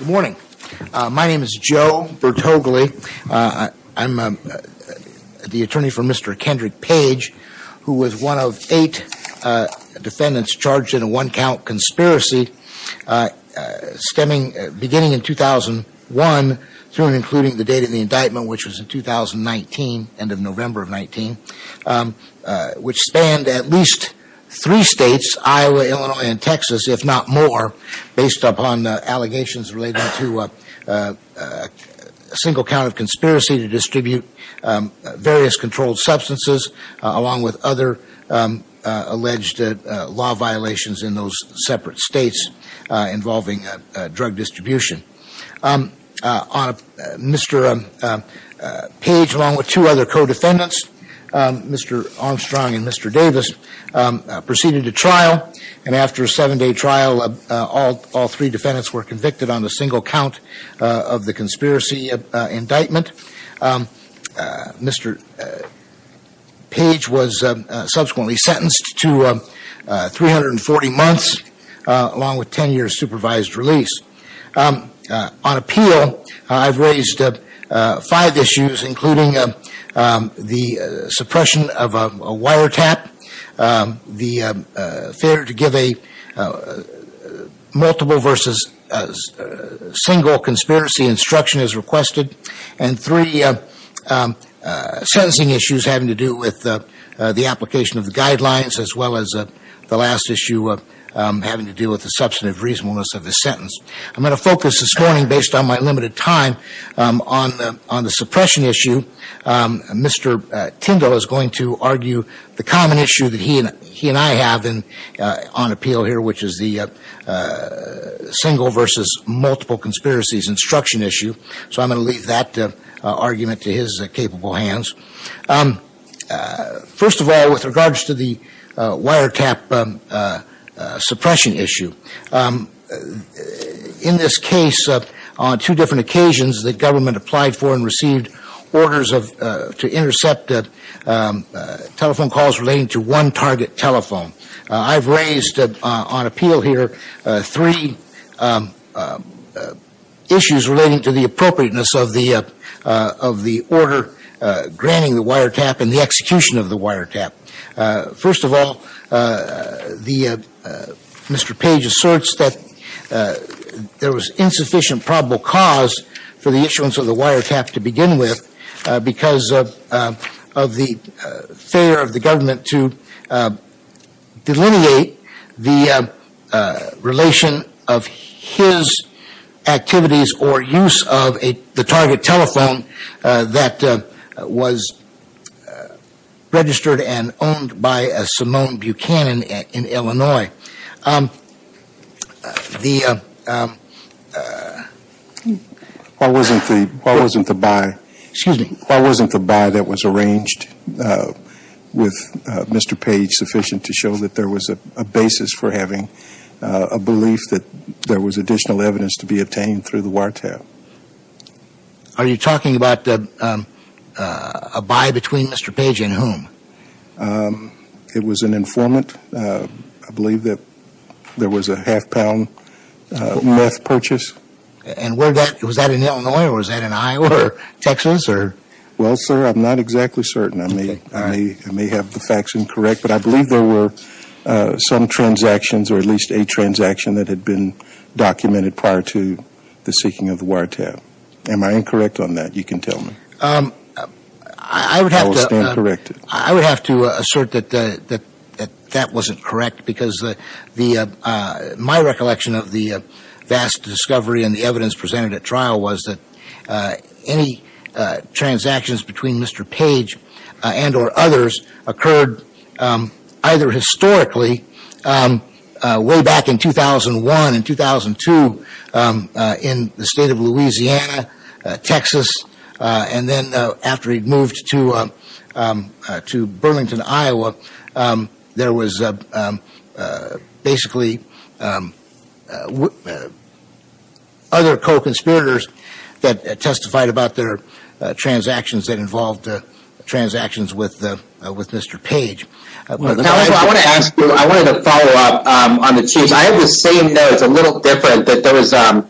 My name is Joe Bertogli. I'm the attorney for Mr. Kendrick Page, who was one of eight defendants charged in a one-count conspiracy stemming, beginning in 2001, through and including the date of the indictment, which was in 2019, end of November of 19, which spanned at least three states, Iowa, Illinois, and Texas, if not more, based upon allegations related to a single count of conspiracy to distribute various controlled substances, along with other alleged law violations in those separate states involving drug distribution. Mr. Page, along with two other co-defendants, Mr. Armstrong and Mr. Davis, proceeded to trial, and after a seven-day trial, all three defendants were convicted on a single count of the conspiracy indictment. Mr. Page was subsequently sentenced to 340 months, along with on appeal, I've raised five issues, including the suppression of a wiretap, the failure to give a multiple versus single conspiracy instruction as requested, and three sentencing issues having to do with the application of the guidelines, as well as the last issue having to do with the substantive reasonableness of the sentence. I'm going to focus this morning, based on my limited time, on the suppression issue. Mr. Tingle is going to argue the common issue that he and I have on appeal here, which is the single versus multiple conspiracies instruction issue. So I'm going to leave that argument to his capable hands. First of all, with regards to the wiretap suppression issue, in this case, on two different occasions, the government applied for and received orders to intercept telephone calls relating to one target telephone. I've raised, on appeal here, three issues relating to the appropriateness of the order granting the wiretap and the execution of the wiretap. First of all, Mr. Page asserts that there was insufficient probable cause for him to delineate the relation of his activities or use of the target telephone that was registered and owned by Simone Buchanan in Illinois. Why wasn't the buy that was arranged with Mr. Page sufficient to show that there was a basis for having a belief that there was additional evidence to be obtained through the wiretap? Are you talking about a buy between Mr. Page and whom? It was an informant. I believe that there was a half-pound meth purchase. And was that in Illinois or was that in Iowa or Texas? Well, sir, I'm not exactly certain. I may have the facts incorrect, but I believe there were some transactions or at least a transaction that had been documented prior to the seeking of the wiretap. Am I incorrect on that? You can tell me. I would have to assert that that wasn't correct because my recollection of the vast discovery and the evidence presented at trial was that any transactions between Mr. Page and or others occurred either historically way back in 2001 and 2002 in the state of Louisiana, Texas, and then after he moved to Burlington, Iowa, there was basically other co-conspirators that testified about their transactions that involved transactions with Mr. Page. I want to ask you, I wanted to follow up on the Chiefs. I have the same notes, a little different, that there was, I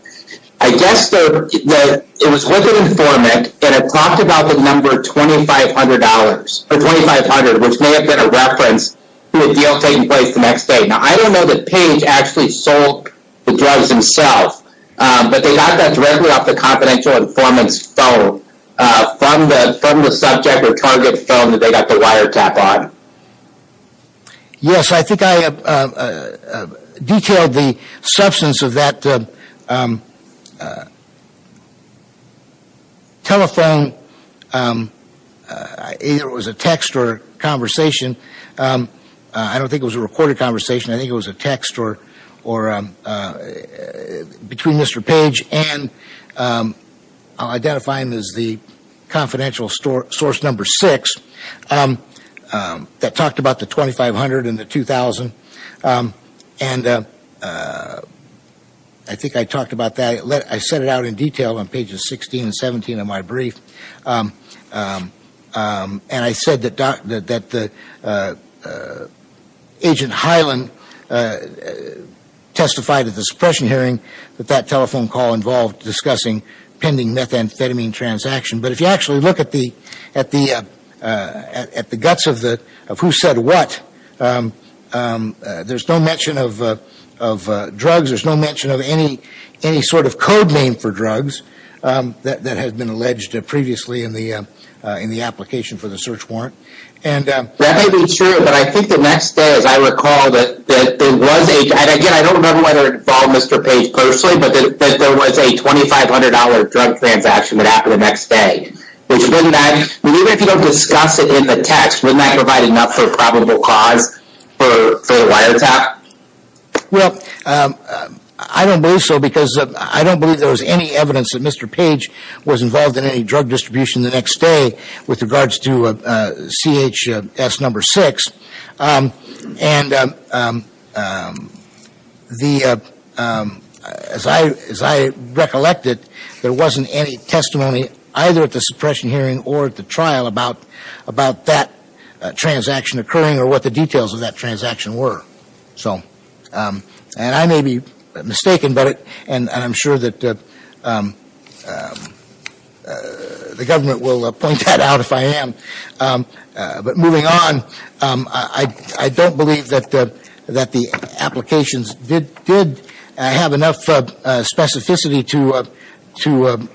guess it was with an informant and it talked about the number $2,500, or $2,500, which may have been a reference to a deal taking place the next day. Now, I don't know that Page actually sold the drugs himself, but they got that directly off the confidential informant's phone from the subject or target phone that they got the wiretap on. Yes, I think I detailed the substance of that telephone, either it was a text or conversation. I don't think it was a recorded conversation. I think it was a text or between Mr. Page and I'll identify him as the confidential source number six that talked about the $2,500 and the $2,000. And I think I talked about that, I set it out in detail on pages 16 and 17 of my brief. And I said that Agent Hyland testified at the suppression hearing that that telephone call involved discussing pending methamphetamine transaction. But if you actually look at the guts of who said what, there's no mention of drugs, there's no mention of any sort of code name for drugs that has been alleged previously in the application for the search warrant. That may be true, but I think the next day, as I recall, there was a, and again, I don't remember whether it involved Mr. Page personally, but there was a $2,500 drug transaction that happened the next day. Even if you don't discuss it in the text, wouldn't that provide enough for a probable cause for a wiretap? Well, I don't believe so because I don't believe there was any evidence that Mr. Page was involved in any drug distribution the next day with regards to CHS number six. And the, as I recollected, there wasn't any testimony either at the suppression hearing or at the trial about that transaction occurring or what the details of that transaction were. So, and I may be mistaken, but, and I'm sure that the government will point that out if I am. But moving on, I don't believe that the applications did have enough specificity to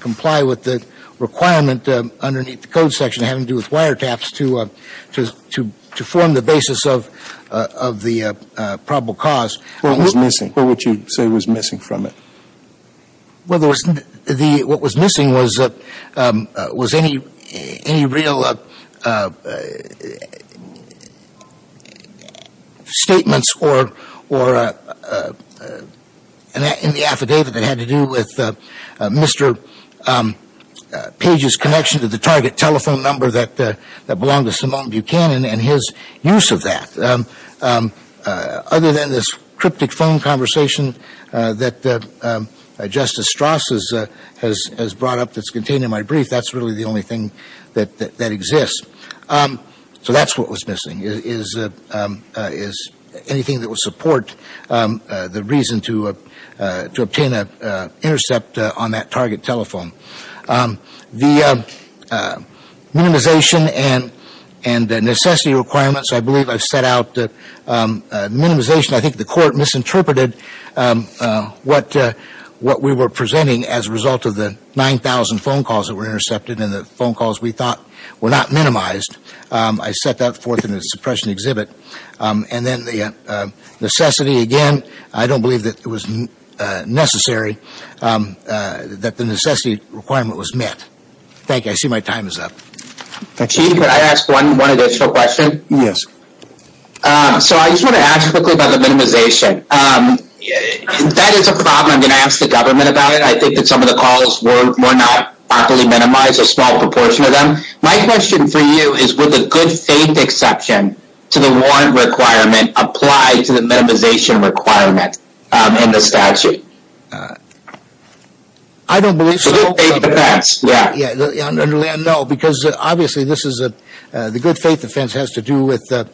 comply with the requirement underneath the code section having to do with wiretaps to form the basis of the probable cause. What was missing? What would you say was missing from it? Well, there was, the, what was missing was, was any, any real statements or, or in the affidavit that had to do with Mr. Page's connection to the target telephone number that belonged to Simone Buchanan and his use of that. Other than this cryptic phone conversation that Justice Strass has brought up that's contained in my brief, that's really the only thing that exists. So that's what was missing is anything that would support the reason to obtain an intercept on that target telephone. The minimization and necessity requirements, I believe I've set out minimization. I think the court misinterpreted what we were presenting as a result of the 9,000 phone calls that were intercepted and the phone calls we thought were not minimized. I set that forth in the suppression exhibit. And then the necessity, again, I don't believe that it was necessary that the necessity requirement was met. Thank you. I see my time is up. Chief, could I ask one additional question? Yes. So I just want to ask quickly about the minimization. That is a problem. I'm going to ask the government about it. I think that some of the calls were not properly minimized, a small proportion of them. My question for you is would the good faith exception to the warrant requirement apply to the minimization requirement in the statute? I don't believe so. The good faith defense, yeah. No, because obviously the good faith defense has to do with the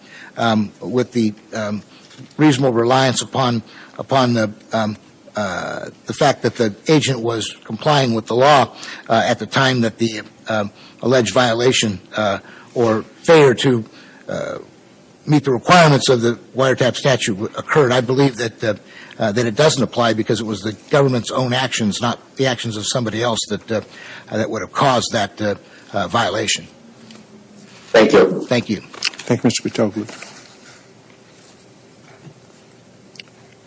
reasonable reliance upon the fact that the agent was complying with the law at the time that the alleged violation or failure to meet the requirements of the wiretap statute occurred. I believe that it doesn't apply because it was the government's own actions, not the actions of somebody else that would have caused that violation. Thank you. Thank you. Thank you, Mr. Patoglia.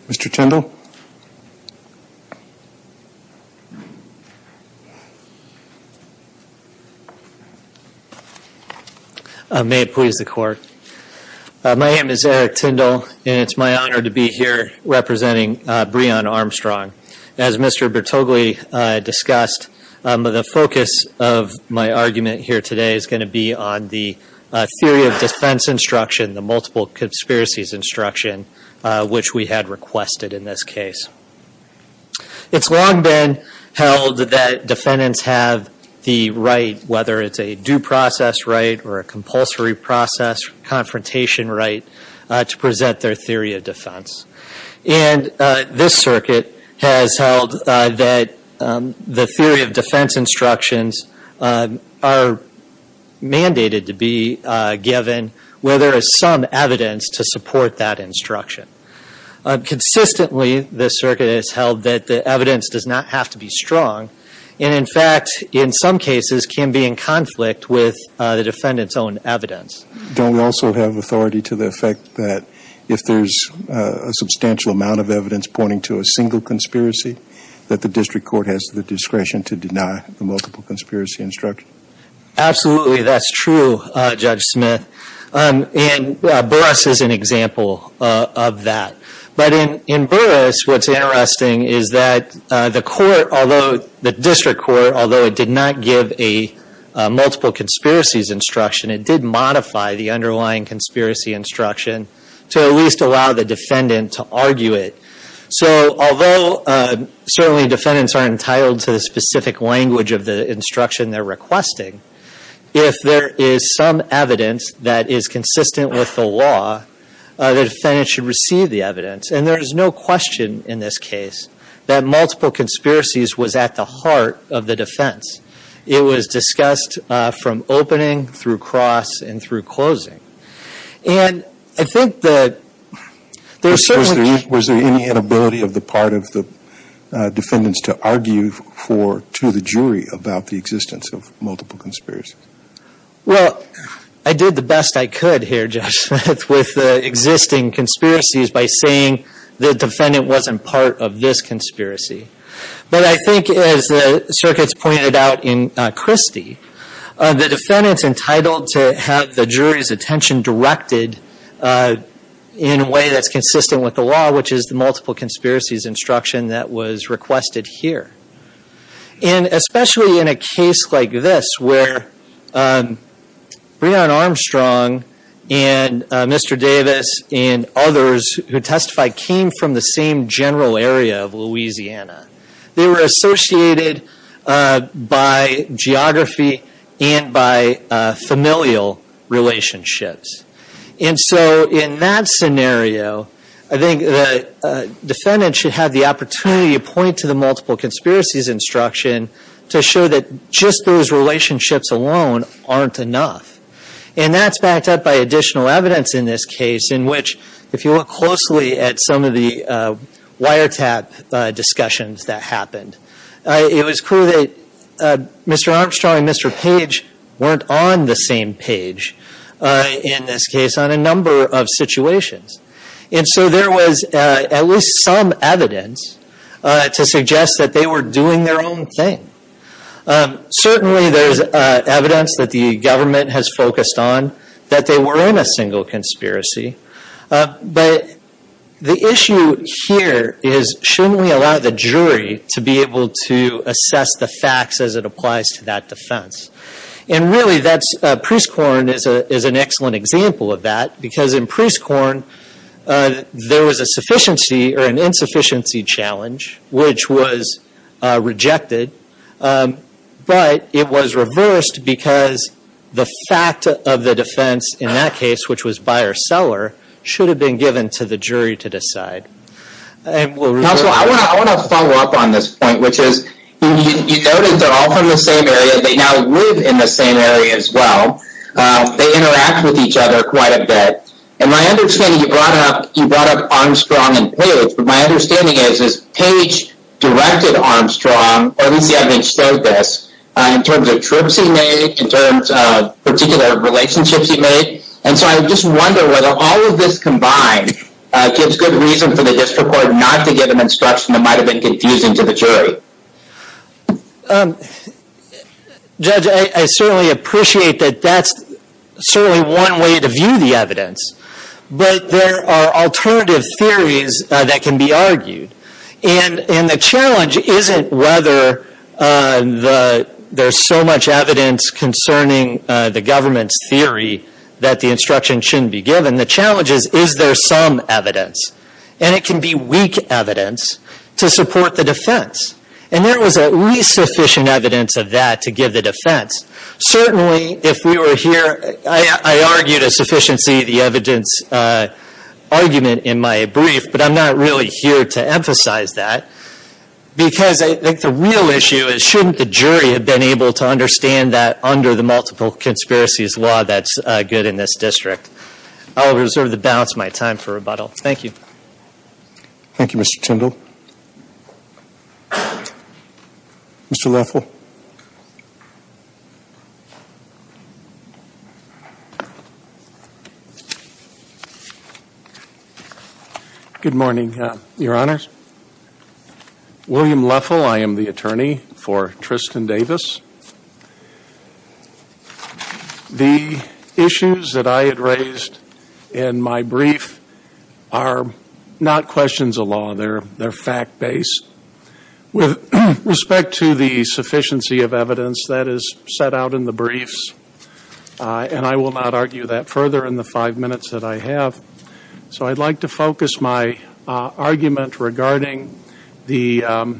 Mr. Tyndall? May it please the court. My name is Eric Tyndall, and it's my honor to be here representing Breon Armstrong. As Mr. Patoglia discussed, the focus of my argument here today is going to be on the theory of defense instruction, the multiple conspiracies instruction, which we had requested in this case. It's long been held that defendants have the right, whether it's a due process right or a compulsory process confrontation right, to present their theory of defense. And this circuit has held that the theory of defense instructions are mandated to be given where there is some evidence to support that instruction. Consistently, this circuit has held that the evidence does not have to be strong, and in fact in some cases can be in conflict with the defendant's own evidence. Don't we also have authority to the effect that if there's a substantial amount of evidence pointing to a single conspiracy, that the district court has the discretion to deny the multiple conspiracy instruction? Absolutely, that's true, Judge Smith. And Burris is an example of that. But in Burris, what's interesting is that the court, although the district court, although it did not give a multiple conspiracies instruction, it did modify the underlying conspiracy instruction to at least allow the defendant to argue it. So although certainly defendants aren't entitled to the specific language of the instruction they're requesting, if there is some evidence that is consistent with the law, the defendant should receive the evidence. And there is no question in this case that multiple conspiracies was at the heart of the defense. It was discussed from opening through cross and through closing. And I think that there's certainly – Well, I did the best I could here, Judge Smith, with the existing conspiracies by saying the defendant wasn't part of this conspiracy. But I think as the circuits pointed out in Christie, the defendant's entitled to have the jury's attention directed in a way that's consistent with the law, which is the multiple conspiracy instruction. that was requested here. And especially in a case like this where Breon Armstrong and Mr. Davis and others who testified came from the same general area of Louisiana. They were associated by geography and by familial relationships. And so in that scenario, I think the defendant should have the opportunity to point to the multiple conspiracies instruction to show that just those relationships alone aren't enough. And that's backed up by additional evidence in this case in which, if you look closely at some of the wiretap discussions that happened, it was clear that Mr. Armstrong and Mr. Page weren't on the same page. In this case, on a number of situations. And so there was at least some evidence to suggest that they were doing their own thing. Certainly, there's evidence that the government has focused on that they were in a single conspiracy. But the issue here is, shouldn't we allow the jury to be able to assess the facts as it applies to that defense? And really, Preece Korn is an excellent example of that. Because in Preece Korn, there was an insufficiency challenge, which was rejected. But it was reversed because the fact of the defense in that case, which was buyer-seller, should have been given to the jury to decide. Counsel, I want to follow up on this point, which is, you noted they're all from the same area. They now live in the same area as well. They interact with each other quite a bit. And my understanding, you brought up Armstrong and Page. But my understanding is, is Page directed Armstrong, or at least he understood this, in terms of trips he made, in terms of particular relationships he made. And so I just wonder whether all of this combined gives good reason for the district court not to give an instruction that might have been confusing to the jury. Judge, I certainly appreciate that that's certainly one way to view the evidence. But there are alternative theories that can be argued. And the challenge isn't whether there's so much evidence concerning the government's theory that the instruction shouldn't be given. The challenge is, is there some evidence? And it can be weak evidence to support the defense. And there was at least sufficient evidence of that to give the defense. Certainly, if we were here, I argued a sufficiency of the evidence argument in my brief, but I'm not really here to emphasize that. Because I think the real issue is, shouldn't the jury have been able to understand that under the multiple conspiracies law that's good in this district? I'll reserve the balance of my time for rebuttal. Thank you. Thank you, Mr. Tyndall. Mr. Leffel. Good morning, Your Honors. William Leffel. I am the attorney for Tristan Davis. The issues that I had raised in my brief are not questions of law. They're fact-based. With respect to the sufficiency of evidence, that is set out in the briefs. And I will not argue that further in the five minutes that I have. So I'd like to focus my argument regarding the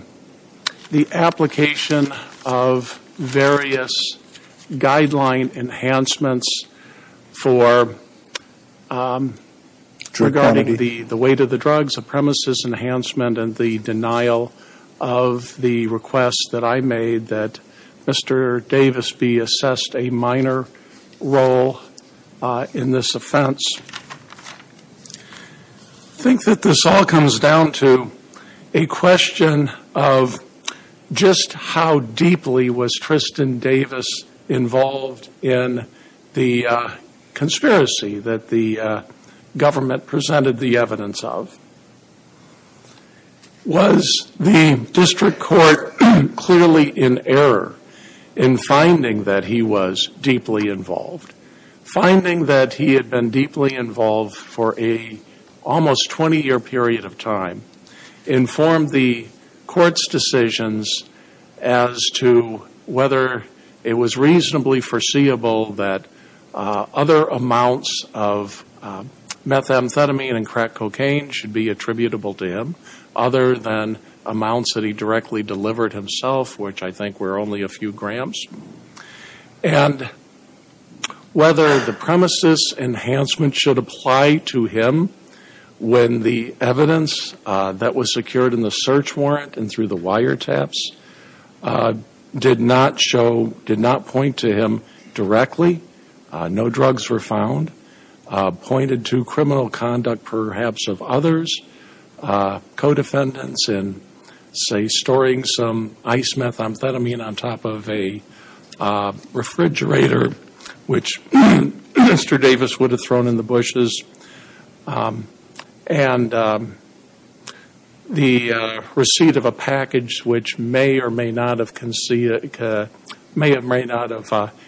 application of various guideline enhancements for regarding the weight of the drugs, the supremacist enhancement, and the denial of the request that I made that Mr. Davis be assessed a minor role in this offense. I think that this all comes down to a question of just how deeply was Tristan Davis involved in the conspiracy that the government presented the evidence of? Was the district court clearly in error in finding that he was deeply involved? Finding that he had been deeply involved for a almost 20-year period of time informed the court's decisions as to whether it was reasonably foreseeable that other amounts of methamphetamine and crack cocaine should be attributable to him, other than amounts that he directly delivered himself, which I think were only a few grams. And whether the premises enhancement should apply to him when the evidence that was secured in the search warrant and through the wiretaps did not point to him directly, no drugs were found, pointed to criminal conduct perhaps of others, co-defendants in, say, storing some ice methamphetamine on top of a refrigerator, which Mr. Davis would have thrown in the bushes, and the receipt of a package which may or may not have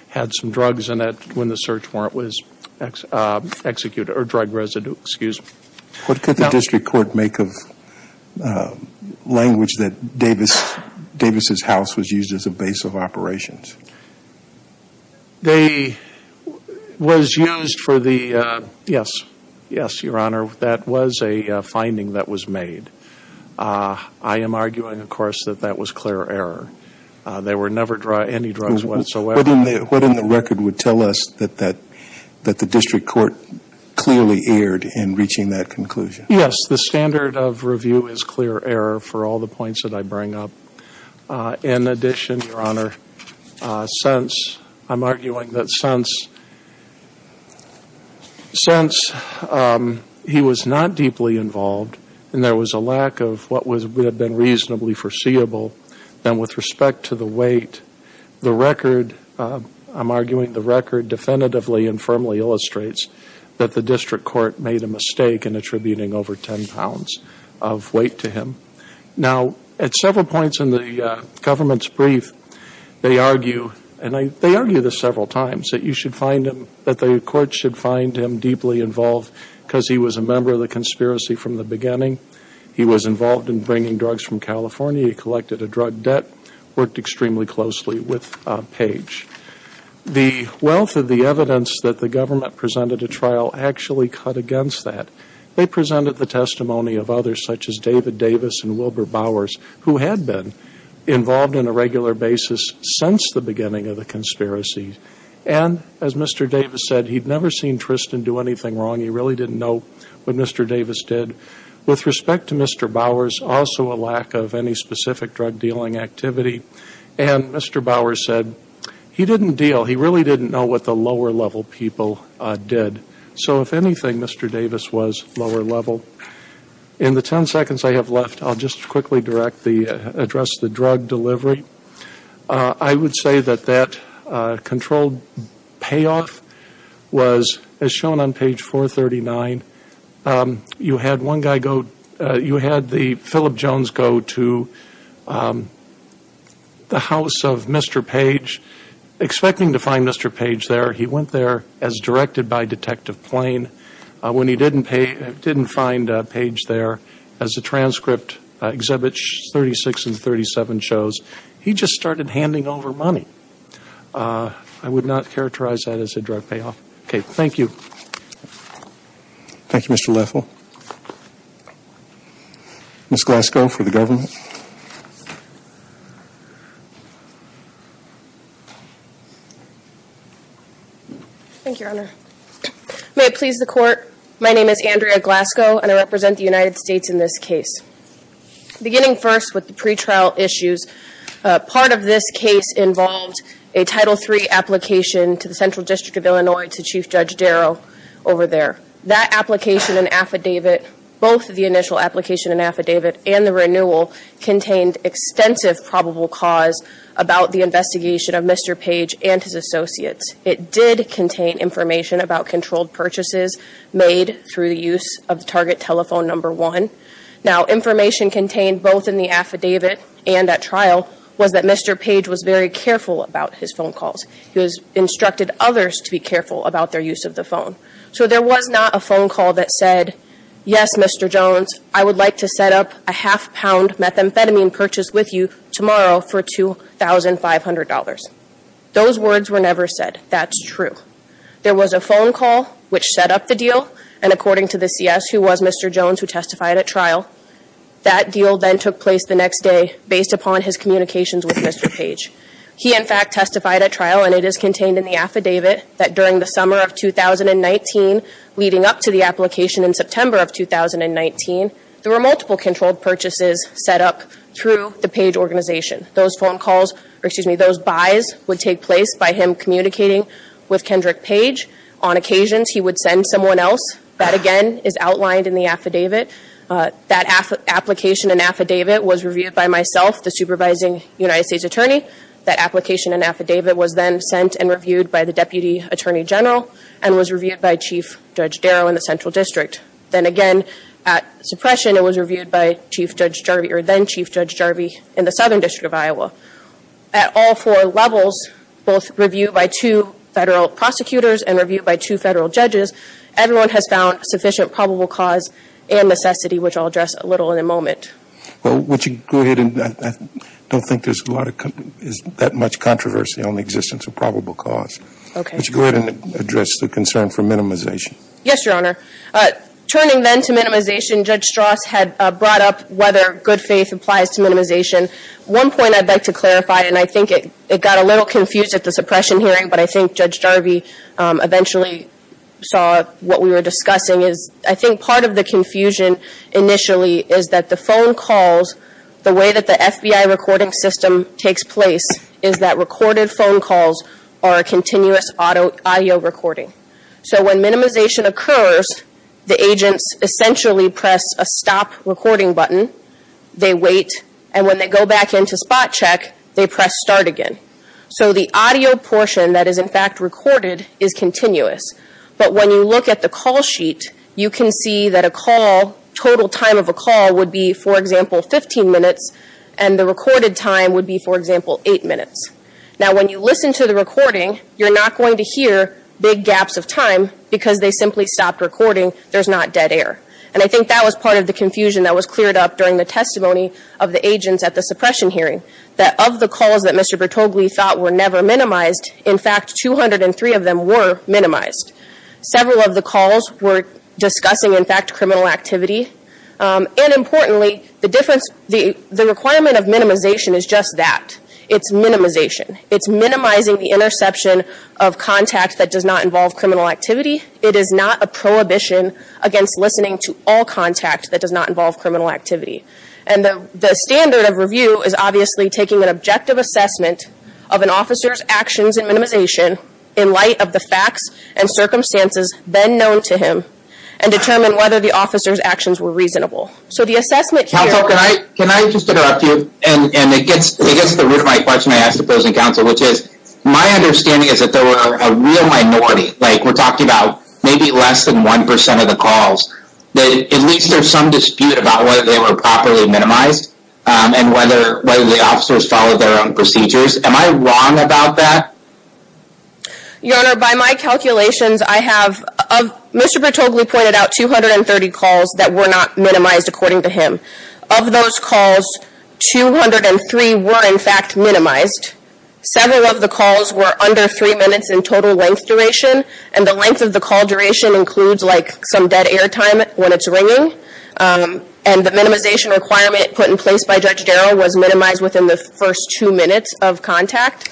had some drugs in it when the search warrant was executed, or drug residue, excuse me. What could the district court make of language that Davis' house was used as a base of operations? They was used for the, yes, yes, Your Honor, that was a finding that was made. I am arguing, of course, that that was clear error. There were never any drugs whatsoever. What in the record would tell us that the district court clearly erred in reaching that conclusion? Yes, the standard of review is clear error for all the points that I bring up. In addition, Your Honor, since I'm arguing that since he was not deeply involved and there was a lack of what would have been reasonably foreseeable, then with respect to the weight, the record, I'm arguing the record definitively and firmly illustrates that the district court made a mistake in attributing over 10 pounds of weight to him. Now, at several points in the government's brief, they argue, and they argue this several times, that the court should find him deeply involved because he was a member of the conspiracy from the beginning. He was involved in bringing drugs from California. He collected a drug debt, worked extremely closely with Page. The wealth of the evidence that the government presented at trial actually cut against that. They presented the testimony of others, such as David Davis and Wilbur Bowers, who had been involved on a regular basis since the beginning of the conspiracy. And as Mr. Davis said, he'd never seen Tristan do anything wrong. He really didn't know what Mr. Davis did. With respect to Mr. Bowers, also a lack of any specific drug-dealing activity, and Mr. Bowers said he didn't deal. He really didn't know what the lower-level people did. So, if anything, Mr. Davis was lower-level. In the 10 seconds I have left, I'll just quickly address the drug delivery. I would say that that controlled payoff was, as shown on page 439, you had one guy go, you had the Philip Jones go to the house of Mr. Page, expecting to find Mr. Page there. He went there as directed by Detective Plain. When he didn't find Page there, as the transcript exhibits 36 and 37 shows, he just started handing over money. I would not characterize that as a drug payoff. Okay, thank you. Thank you, Mr. Leffel. Ms. Glasgow for the government. Thank you, Your Honor. May it please the Court, my name is Andrea Glasgow, and I represent the United States in this case. Beginning first with the pretrial issues, part of this case involved a Title III application to the Central District of Illinois, to Chief Judge Darrow over there. That application and affidavit, both the initial application and affidavit and the renewal, contained extensive probable cause about the investigation of Mr. Page and his associates. It did contain information about controlled purchases made through the use of the target telephone number one. Now, information contained both in the affidavit and at trial was that Mr. Page was very careful about his phone calls. He instructed others to be careful about their use of the phone. So there was not a phone call that said, yes, Mr. Jones, I would like to set up a half-pound methamphetamine purchase with you tomorrow for $2,500. Those words were never said. That's true. There was a phone call which set up the deal, and according to the CS, who was Mr. Jones who testified at trial, that deal then took place the next day based upon his communications with Mr. Page. He, in fact, testified at trial, and it is contained in the affidavit, that during the summer of 2019 leading up to the application in September of 2019, there were multiple controlled purchases set up through the Page organization. Those phone calls, or excuse me, those buys would take place by him communicating with Kendrick Page. On occasions, he would send someone else. That, again, is outlined in the affidavit. That application and affidavit was reviewed by myself, the supervising United States attorney. That application and affidavit was then sent and reviewed by the Deputy Attorney General and was reviewed by Chief Judge Darrow in the Central District. Then again, at suppression, it was reviewed by Chief Judge Jarvie, or then Chief Judge Jarvie, in the Southern District of Iowa. At all four levels, both reviewed by two federal prosecutors and reviewed by two federal judges, everyone has found sufficient probable cause and necessity, which I'll address a little in a moment. Well, would you go ahead? I don't think there's that much controversy on the existence of probable cause. Okay. Would you go ahead and address the concern for minimization? Yes, Your Honor. Turning then to minimization, Judge Strauss had brought up whether good faith applies to minimization. One point I'd like to clarify, and I think it got a little confused at the suppression hearing, but I think Judge Jarvie eventually saw what we were discussing, is I think part of the confusion initially is that the phone calls, the way that the FBI recording system takes place is that recorded phone calls are a continuous audio recording. So when minimization occurs, the agents essentially press a stop recording button, they wait, and when they go back into spot check, they press start again. So the audio portion that is in fact recorded is continuous, but when you look at the call sheet, you can see that a call, total time of a call would be, for example, 15 minutes, and the recorded time would be, for example, 8 minutes. Now, when you listen to the recording, you're not going to hear big gaps of time because they simply stopped recording. There's not dead air. And I think that was part of the confusion that was cleared up during the testimony of the agents at the suppression hearing, that of the calls that Mr. Bertogli thought were never minimized, in fact, 203 of them were minimized. Several of the calls were discussing, in fact, criminal activity. And importantly, the requirement of minimization is just that. It's minimization. It's minimizing the interception of contact that does not involve criminal activity. It is not a prohibition against listening to all contact that does not involve criminal activity. And the standard of review is obviously taking an objective assessment of an officer's actions and minimization in light of the facts and circumstances then known to him and determine whether the officer's actions were reasonable. So the assessment here- Counsel, can I just interrupt you? And it gets to the root of my question I asked the opposing counsel, which is my understanding is that there were a real minority. Like, we're talking about maybe less than 1% of the calls. At least there's some dispute about whether they were properly minimized and whether the officers followed their own procedures. Am I wrong about that? Your Honor, by my calculations, I have- Mr. Bertogli pointed out 230 calls that were not minimized according to him. Of those calls, 203 were, in fact, minimized. Several of the calls were under 3 minutes in total length duration. And the length of the call duration includes, like, some dead air time when it's ringing. And the minimization requirement put in place by Judge Darrow was minimized within the first 2 minutes of contact.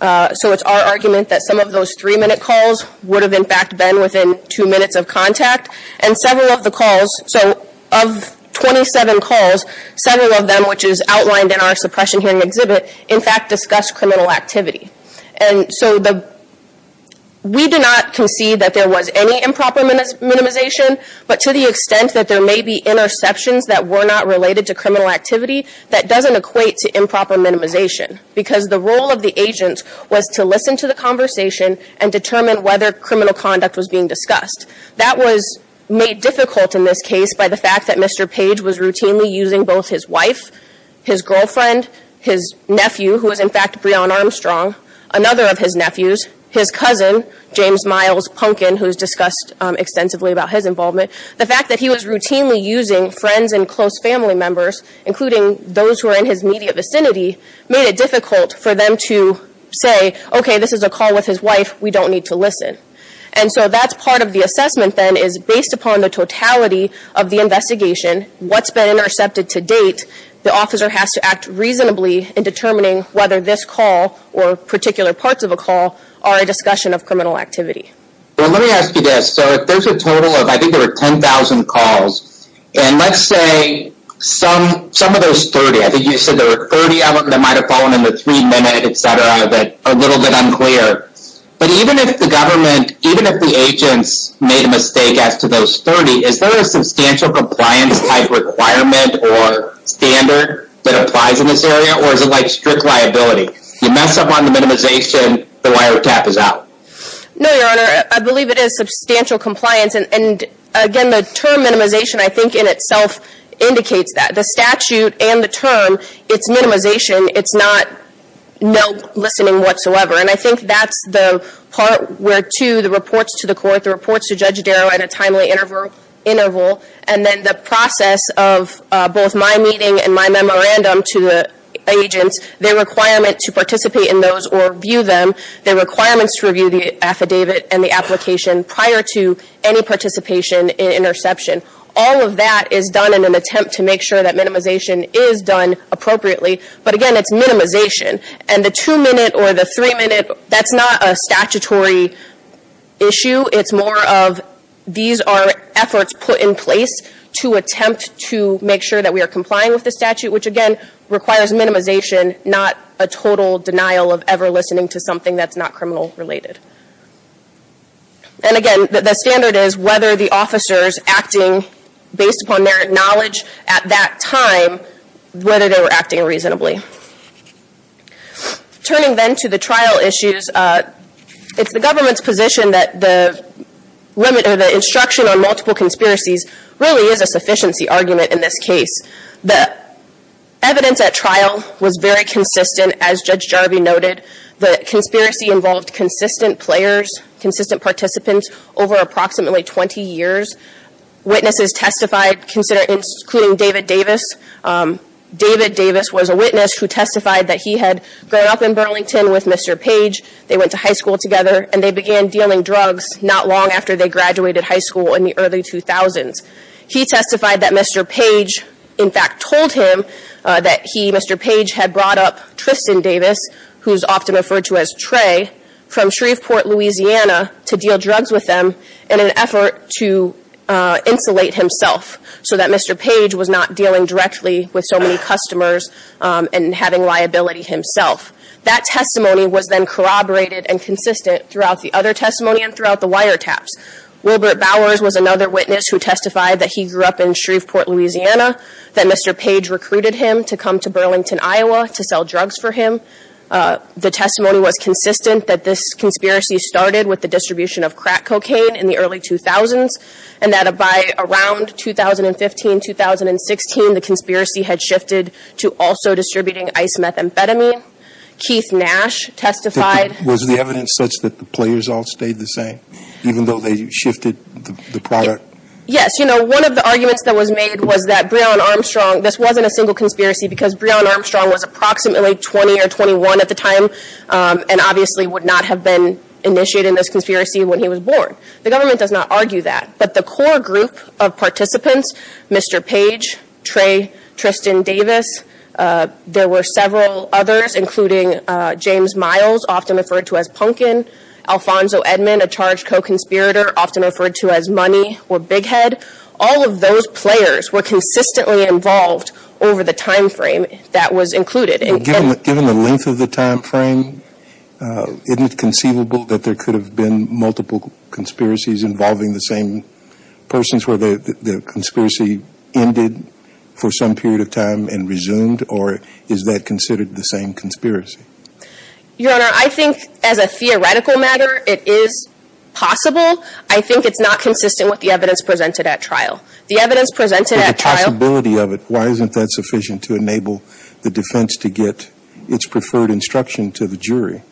So it's our argument that some of those 3-minute calls would have, in fact, been within 2 minutes of contact. And several of the calls- So of 27 calls, several of them, which is outlined in our suppression hearing exhibit, in fact, discuss criminal activity. And so the- We do not concede that there was any improper minimization, but to the extent that there may be interceptions that were not related to criminal activity, that doesn't equate to improper minimization. Because the role of the agent was to listen to the conversation and determine whether criminal conduct was being discussed. That was made difficult in this case by the fact that Mr. Page was routinely using both his wife, his girlfriend, his nephew, who is, in fact, Breonn Armstrong, another of his nephews, his cousin, James Miles Punkin, who is discussed extensively about his involvement. The fact that he was routinely using friends and close family members, including those who are in his immediate vicinity, made it difficult for them to say, okay, this is a call with his wife. We don't need to listen. And so that's part of the assessment, then, is based upon the totality of the investigation, what's been intercepted to date. The officer has to act reasonably in determining whether this call or particular parts of a call are a discussion of criminal activity. Well, let me ask you this. So if there's a total of, I think there were 10,000 calls, and let's say some of those 30, I think you said there were 30 of them that might have fallen in the three-minute, et cetera, that are a little bit unclear. But even if the government, even if the agents made a mistake as to those 30, is there a substantial compliance-like requirement or standard that applies in this area, or is it like strict liability? You mess up on the minimization, the wiretap is out. No, Your Honor. I believe it is substantial compliance. And, again, the term minimization, I think, in itself indicates that. The statute and the term, it's minimization. It's not no listening whatsoever. And I think that's the part where, two, the reports to the court, the reports to Judge Darrow at a timely interval, and then the process of both my meeting and my memorandum to the agents, their requirement to participate in those or view them, their requirements to review the affidavit and the application prior to any participation in interception. All of that is done in an attempt to make sure that minimization is done appropriately. But, again, it's minimization. And the two-minute or the three-minute, that's not a statutory issue. It's more of these are efforts put in place to attempt to make sure that we are complying with the statute, which, again, requires minimization, not a total denial of ever listening to something that's not criminal-related. And, again, the standard is whether the officers acting based upon their knowledge at that time, whether they were acting reasonably. Turning then to the trial issues, it's the government's position that the limit or the instruction on multiple conspiracies really is a sufficiency argument in this case. The evidence at trial was very consistent, as Judge Jarvie noted. The conspiracy involved consistent players, consistent participants over approximately 20 years. Witnesses testified, including David Davis. David Davis was a witness who testified that he had grown up in Burlington with Mr. Page. They went to high school together, and they began dealing drugs not long after they graduated high school in the early 2000s. He testified that Mr. Page, in fact, told him that he, Mr. Page, had brought up Tristan Davis, who's often referred to as Trey, from Shreveport, Louisiana, to deal drugs with them in an effort to insulate himself so that Mr. Page was not dealing directly with so many customers and having liability himself. That testimony was then corroborated and consistent throughout the other testimony and throughout the wiretaps. Wilbert Bowers was another witness who testified that he grew up in Shreveport, Louisiana, that Mr. Page recruited him to come to Burlington, Iowa, to sell drugs for him. The testimony was consistent that this conspiracy started with the distribution of crack cocaine in the early 2000s, and that by around 2015, 2016, the conspiracy had shifted to also distributing ice methamphetamine. Keith Nash testified. Was the evidence such that the players all stayed the same, even though they shifted the product? Yes. You know, one of the arguments that was made was that Brionne Armstrong, this wasn't a single conspiracy because Brionne Armstrong was approximately 20 or 21 at the time and obviously would not have been initiated in this conspiracy when he was born. The government does not argue that. But the core group of participants, Mr. Page, Trey Tristan Davis, there were several others, including James Miles, often referred to as Punkin, Alfonso Edmond, a charged co-conspirator, often referred to as Money or Big Head. All of those players were consistently involved over the time frame that was included. Given the length of the time frame, isn't it conceivable that there could have been multiple conspiracies involving the same persons where the conspiracy ended for some period of time and resumed? Or is that considered the same conspiracy? Your Honor, I think as a theoretical matter, it is possible. I think it's not consistent with the evidence presented at trial. The evidence presented at trial Why isn't that sufficient to enable the defense to get its preferred instruction to the jury?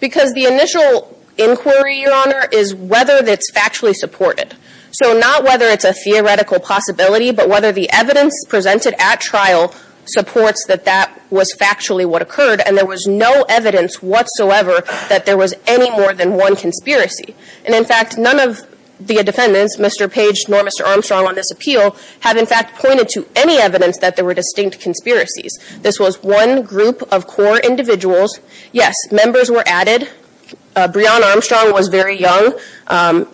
Because the initial inquiry, Your Honor, is whether it's factually supported. So not whether it's a theoretical possibility, but whether the evidence presented at trial supports that that was factually what occurred and there was no evidence whatsoever that there was any more than one conspiracy. And in fact, none of the defendants, Mr. Page nor Mr. Armstrong on this appeal, have in fact pointed to any evidence that there were distinct conspiracies. This was one group of core individuals. Yes, members were added. Breon Armstrong was very young.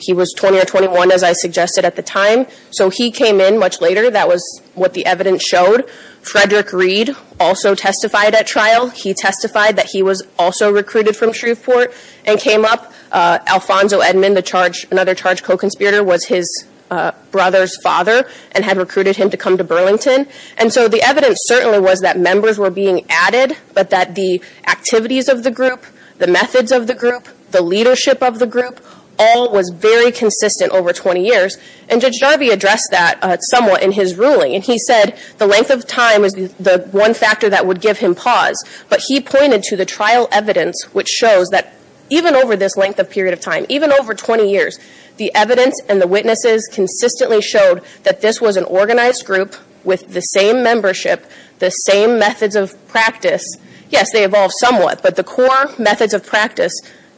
He was 20 or 21, as I suggested at the time. So he came in much later. That was what the evidence showed. Frederick Reed also testified at trial. He testified that he was also recruited from Shreveport and came up. Alfonso Edmond, another charged co-conspirator, was his brother's father and had recruited him to come to Burlington. And so the evidence certainly was that members were being added, but that the activities of the group, the methods of the group, the leadership of the group all was very consistent over 20 years. And Judge Darby addressed that somewhat in his ruling. And he said the length of time is the one factor that would give him pause. But he pointed to the trial evidence, which shows that even over this length of period of time, even over 20 years, the evidence and the witnesses consistently showed that this was an organized group with the same membership, the same methods of practice. Yes, they evolved somewhat, but the core methods of practice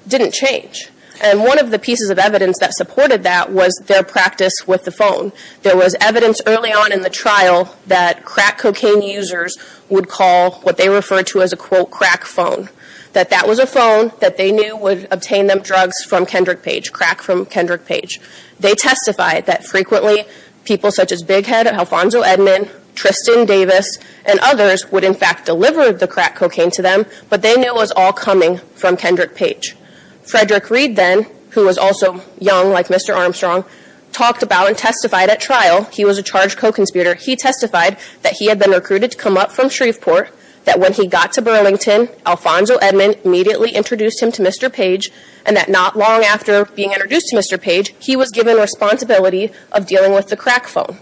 didn't change. And one of the pieces of evidence that supported that was their practice with the phone. There was evidence early on in the trial that crack cocaine users would call what they referred to as a, quote, crack phone. That that was a phone that they knew would obtain them drugs from Kendrick Page, crack from Kendrick Page. They testified that frequently people such as Big Head, Alfonso Edmond, Tristan Davis, and others would in fact deliver the crack cocaine to them, but they knew it was all coming from Kendrick Page. Frederick Reed then, who was also young like Mr. Armstrong, talked about and testified at trial. He was a charged co-conspirator. He testified that he had been recruited to come up from Shreveport, that when he got to Burlington, Alfonso Edmond immediately introduced him to Mr. Page, and that not long after being introduced to Mr. Page, he was given responsibility of dealing with the crack phone.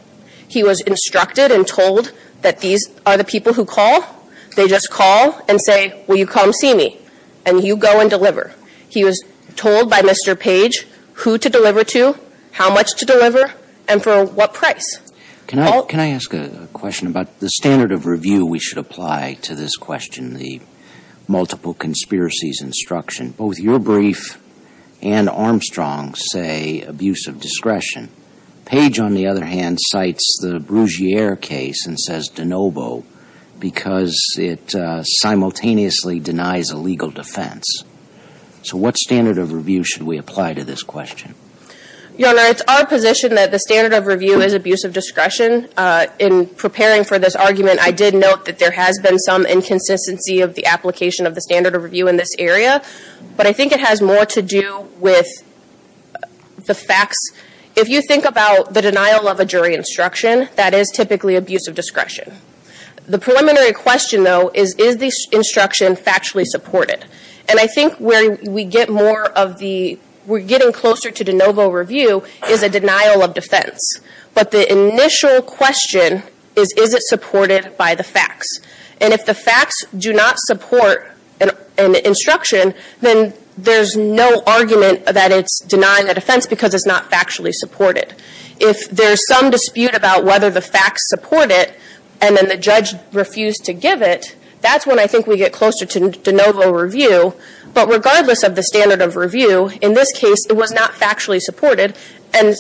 He was instructed and told that these are the people who call. They just call and say, will you come see me? And you go and deliver. He was told by Mr. Page who to deliver to, how much to deliver, and for what price. Can I ask a question about the standard of review we should apply to this question, the multiple conspiracies instruction? Both your brief and Armstrong's say abuse of discretion. Page, on the other hand, cites the Brugiere case and says de novo because it simultaneously denies a legal defense. So what standard of review should we apply to this question? Your Honor, it's our position that the standard of review is abuse of discretion. In preparing for this argument, I did note that there has been some inconsistency of the application of the standard of review in this area, but I think it has more to do with the facts. If you think about the denial of a jury instruction, that is typically abuse of discretion. The preliminary question, though, is, is the instruction factually supported? And I think where we get more of the, we're getting closer to de novo review is a denial of defense. But the initial question is, is it supported by the facts? And if the facts do not support an instruction, then there's no argument that it's denying a defense because it's not factually supported. If there's some dispute about whether the facts support it and then the judge refused to give it, that's when I think we get closer to de novo review. But regardless of the standard of review, in this case, it was not factually supported. And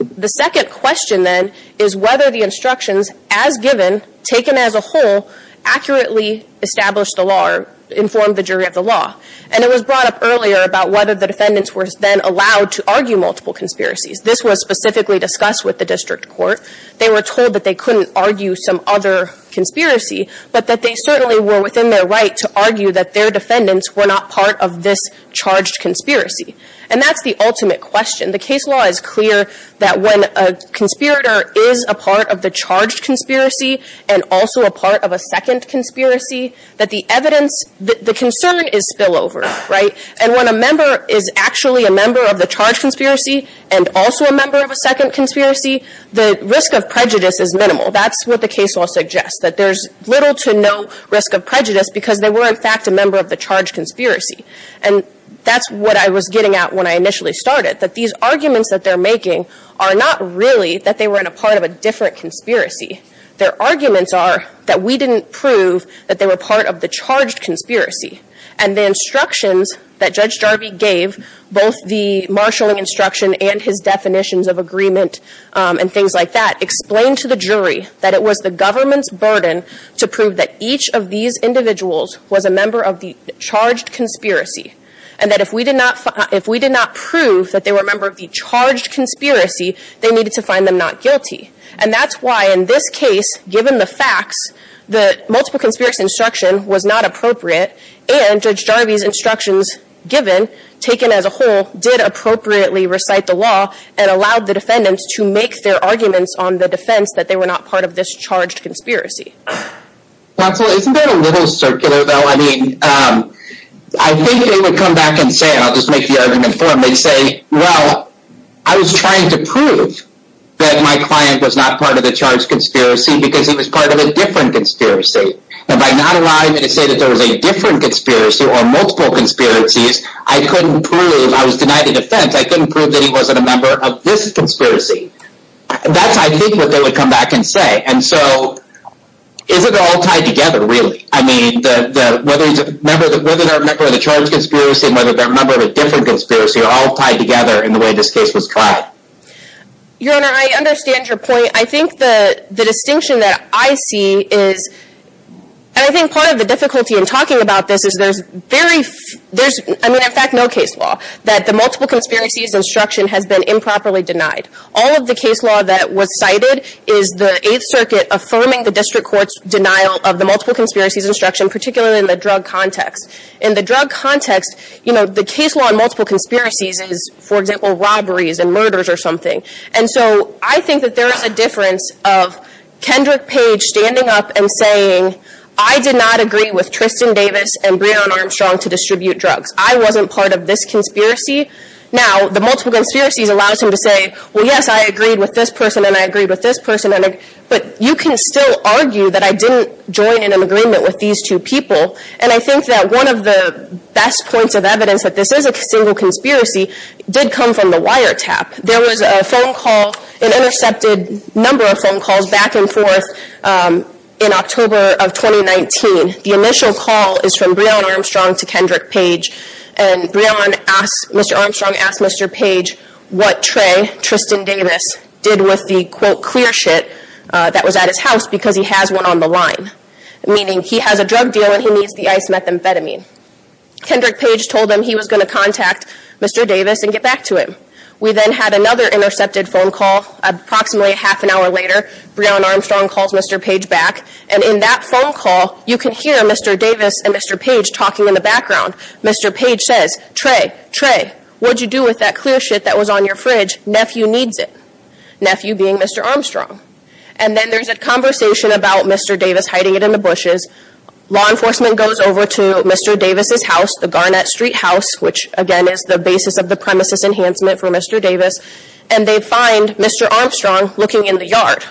the second question, then, is whether the instructions as given, taken as a whole, accurately established the law or informed the jury of the law. And it was brought up earlier about whether the defendants were then allowed to argue multiple conspiracies. This was specifically discussed with the district court. They were told that they couldn't argue some other conspiracy, but that they certainly were within their right to argue that their defendants were not part of this charged conspiracy. And that's the ultimate question. The case law is clear that when a conspirator is a part of the charged conspiracy and also a part of a second conspiracy, that the evidence, the concern is spillover, right? And when a member is actually a member of the charged conspiracy and also a member of a second conspiracy, the risk of prejudice is minimal. That's what the case law suggests, that there's little to no risk of prejudice because they were, in fact, a member of the charged conspiracy. And that's what I was getting at when I initially started, that these arguments that they're making are not really that they were in a part of a different conspiracy. Their arguments are that we didn't prove that they were part of the charged conspiracy. And the instructions that Judge Jarvie gave, both the marshalling instruction and his definitions of agreement and things like that, explained to the jury that it was the government's burden to prove that each of these individuals was a member of the charged conspiracy and that if we did not prove that they were a member of the charged conspiracy, they needed to find them not guilty. And that's why in this case, given the facts, the multiple conspiracy instruction was not appropriate and Judge Jarvie's instructions given, taken as a whole, did appropriately recite the law and allowed the defendants to make their arguments on the defense that they were not part of this charged conspiracy. Counsel, isn't that a little circular though? I mean, I think they would come back and say, and I'll just make the argument for them, they'd say, well, I was trying to prove that my client was not part of the charged conspiracy because he was part of a different conspiracy. And by not allowing me to say that there was a different conspiracy or multiple conspiracies, I couldn't prove, I was denied a defense, I couldn't prove that he wasn't a member of this conspiracy. That's, I think, what they would come back and say. And so, is it all tied together really? I mean, whether he's a member of the charged conspiracy and whether they're a member of a different conspiracy are all tied together in the way this case was tried. Your Honor, I understand your point. I think the distinction that I see is, and I think part of the difficulty in talking about this is there's very, I mean, in fact, no case law that the multiple conspiracies instruction has been improperly denied. All of the case law that was cited is the Eighth Circuit affirming the district court's denial of the multiple conspiracies instruction, particularly in the drug context. In the drug context, you know, the case law in multiple conspiracies is, for example, robberies and murders or something. And so, I think that there is a difference of Kendrick Page standing up and saying, I did not agree with Tristan Davis and Breonna Armstrong to distribute drugs. I wasn't part of this conspiracy. Now, the multiple conspiracies allows him to say, well, yes, I agreed with this person and I agreed with this person. But you can still argue that I didn't join in an agreement with these two people. And I think that one of the best points of evidence that this is a single conspiracy did come from the wiretap. There was a phone call, an intercepted number of phone calls back and forth in October of 2019. The initial call is from Breonna Armstrong to Kendrick Page. And Mr. Armstrong asked Mr. Page what Trey, Tristan Davis, did with the, quote, clear shit that was at his house because he has one on the line, meaning he has a drug deal and he needs the ice methamphetamine. Kendrick Page told him he was going to contact Mr. Davis and get back to him. We then had another intercepted phone call. Approximately a half an hour later, Breonna Armstrong calls Mr. Page back. And in that phone call, you can hear Mr. Davis and Mr. Page talking in the background. Mr. Page says, Trey, Trey, what did you do with that clear shit that was on your fridge? Nephew needs it. Nephew being Mr. Armstrong. And then there's a conversation about Mr. Davis hiding it in the bushes. Law enforcement goes over to Mr. Davis' house, the Garnett Street house, which, again, is the basis of the premises enhancement for Mr. Davis. And they find Mr. Armstrong looking in the yard.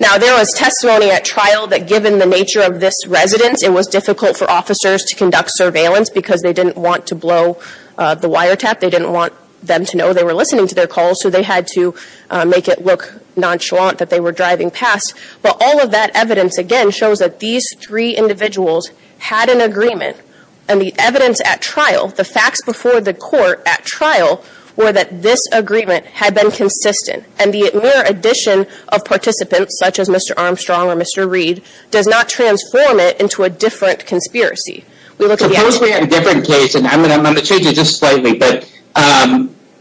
Now, there was testimony at trial that given the nature of this residence, it was difficult for officers to conduct surveillance because they didn't want to blow the wiretap. They didn't want them to know they were listening to their calls. So they had to make it look nonchalant that they were driving past. But all of that evidence, again, shows that these three individuals had an agreement. And the evidence at trial, the facts before the court at trial were that this agreement had been consistent. And the mere addition of participants, such as Mr. Armstrong or Mr. Reed, does not transform it into a different conspiracy. We look at the actual evidence. Suppose a different case, and I'm going to change it just slightly, but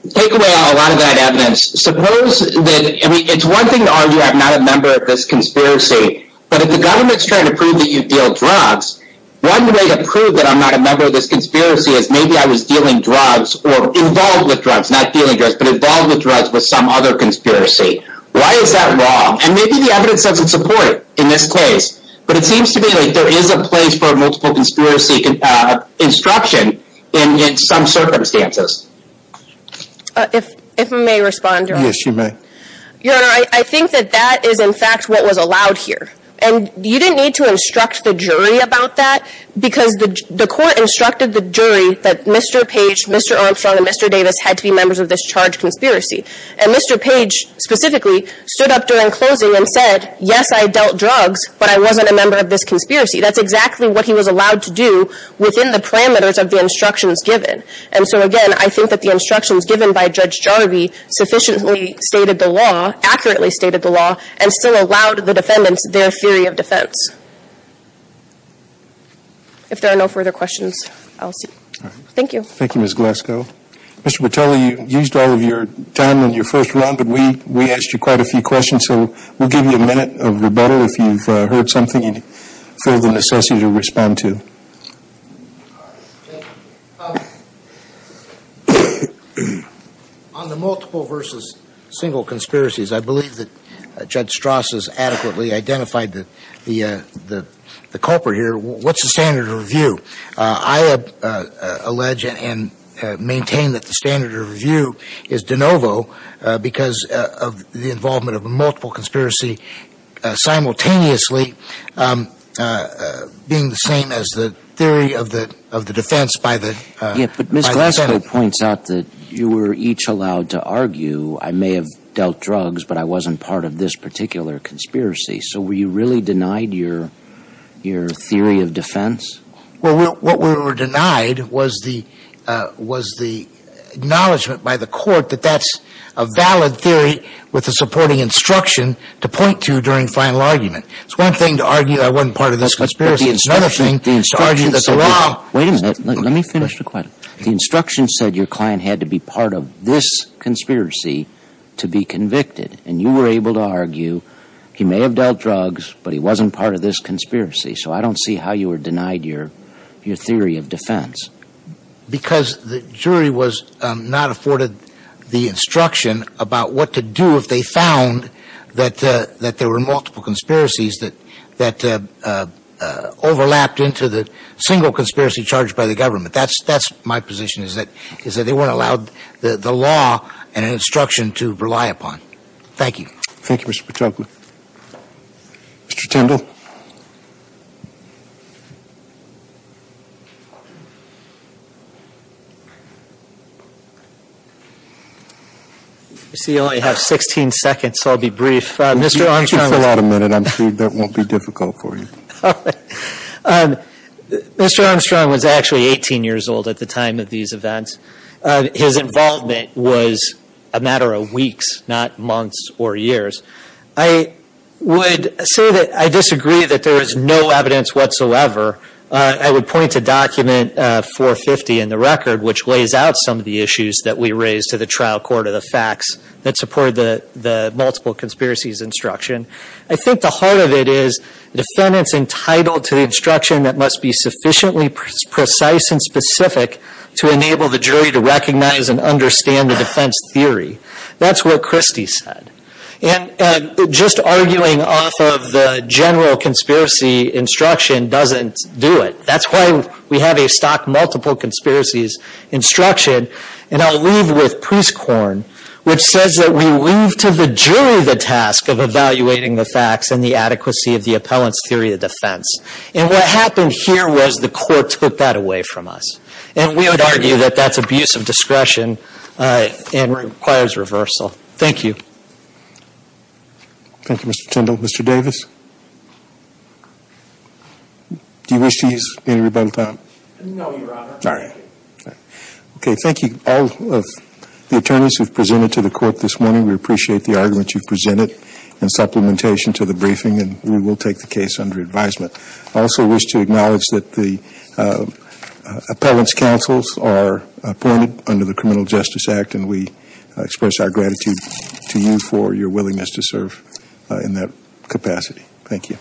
take away a lot of that evidence. Suppose that, I mean, it's one thing to argue I'm not a member of this conspiracy. But if the government's trying to prove that you deal drugs, one way to prove that I'm not a member of this conspiracy is maybe I was dealing drugs or involved with drugs, not dealing drugs, but involved with drugs with some other conspiracy. Why is that wrong? And maybe the evidence doesn't support it in this case. But it seems to me like there is a place for multiple conspiracy instruction in some circumstances. If I may respond, Your Honor. Yes, you may. Your Honor, I think that that is, in fact, what was allowed here. And you didn't need to instruct the jury about that because the court instructed the jury that Mr. Page, Mr. Armstrong, and Mr. Davis had to be members of this charged conspiracy. And Mr. Page specifically stood up during closing and said, yes, I dealt drugs, but I wasn't a member of this conspiracy. That's exactly what he was allowed to do within the parameters of the instructions given. And so, again, I think that the instructions given by Judge Jarvie sufficiently stated the law, accurately stated the law, and still allowed the defendants their theory of defense. If there are no further questions, I'll stop. Thank you. Thank you, Ms. Glasgow. Mr. Patella, you used all of your time in your first round, but we asked you quite a few questions. So we'll give you a minute of rebuttal. If you've heard something you feel the necessity to respond to. On the multiple versus single conspiracies, I believe that Judge Strass has adequately identified the culprit here. What's the standard of review? I allege and maintain that the standard of review is de novo because of the involvement of a multiple conspiracy simultaneously being the same as the theory of the defense by the Senate. But Ms. Glasgow points out that you were each allowed to argue, I may have dealt drugs, but I wasn't part of this particular conspiracy. So were you really denied your theory of defense? Well, what we were denied was the acknowledgement by the court that that's a valid theory with a supporting instruction to point to during final argument. It's one thing to argue I wasn't part of this conspiracy. It's another thing to argue that's wrong. Wait a minute. Let me finish the question. The instruction said your client had to be part of this conspiracy to be convicted. And you were able to argue he may have dealt drugs, but he wasn't part of this conspiracy. So I don't see how you were denied your theory of defense. Because the jury was not afforded the instruction about what to do if they found that there were multiple conspiracies that overlapped into the single conspiracy charged by the government. That's my position, is that they weren't allowed the law and instruction to rely upon. Thank you. Thank you, Mr. Patokma. Mr. Tindall. I see you only have 16 seconds, so I'll be brief. Mr. Armstrong. If you fill out a minute, I'm sure that won't be difficult for you. All right. Mr. Armstrong was actually 18 years old at the time of these events. His involvement was a matter of weeks, not months or years. I would say that I disagree that there is no evidence whatsoever. I would point to document 450 in the record, which lays out some of the issues that we raise to the trial court of the facts that support the multiple conspiracies instruction. I think the heart of it is the defendant's entitled to the instruction that must be sufficiently precise and specific to enable the jury to recognize and understand the defense theory. That's what Christie said. And just arguing off of the general conspiracy instruction doesn't do it. That's why we have a stock multiple conspiracies instruction. And I'll leave with Priest-Korn, which says that we leave to the jury the task of evaluating the facts and the adequacy of the appellant's theory of defense. And what happened here was the court took that away from us. And we would argue that that's abuse of discretion and requires reversal. Thank you. Thank you, Mr. Tyndall. Mr. Davis, do you wish to use any rebuttal time? No, Your Honor. All right. Okay. Thank you, all of the attorneys who have presented to the court this morning. We appreciate the arguments you've presented in supplementation to the briefing, and we will take the case under advisement. I also wish to acknowledge that the appellant's counsels are appointed under the Criminal Justice Act, and we express our gratitude to you for your willingness to serve in that capacity. Thank you.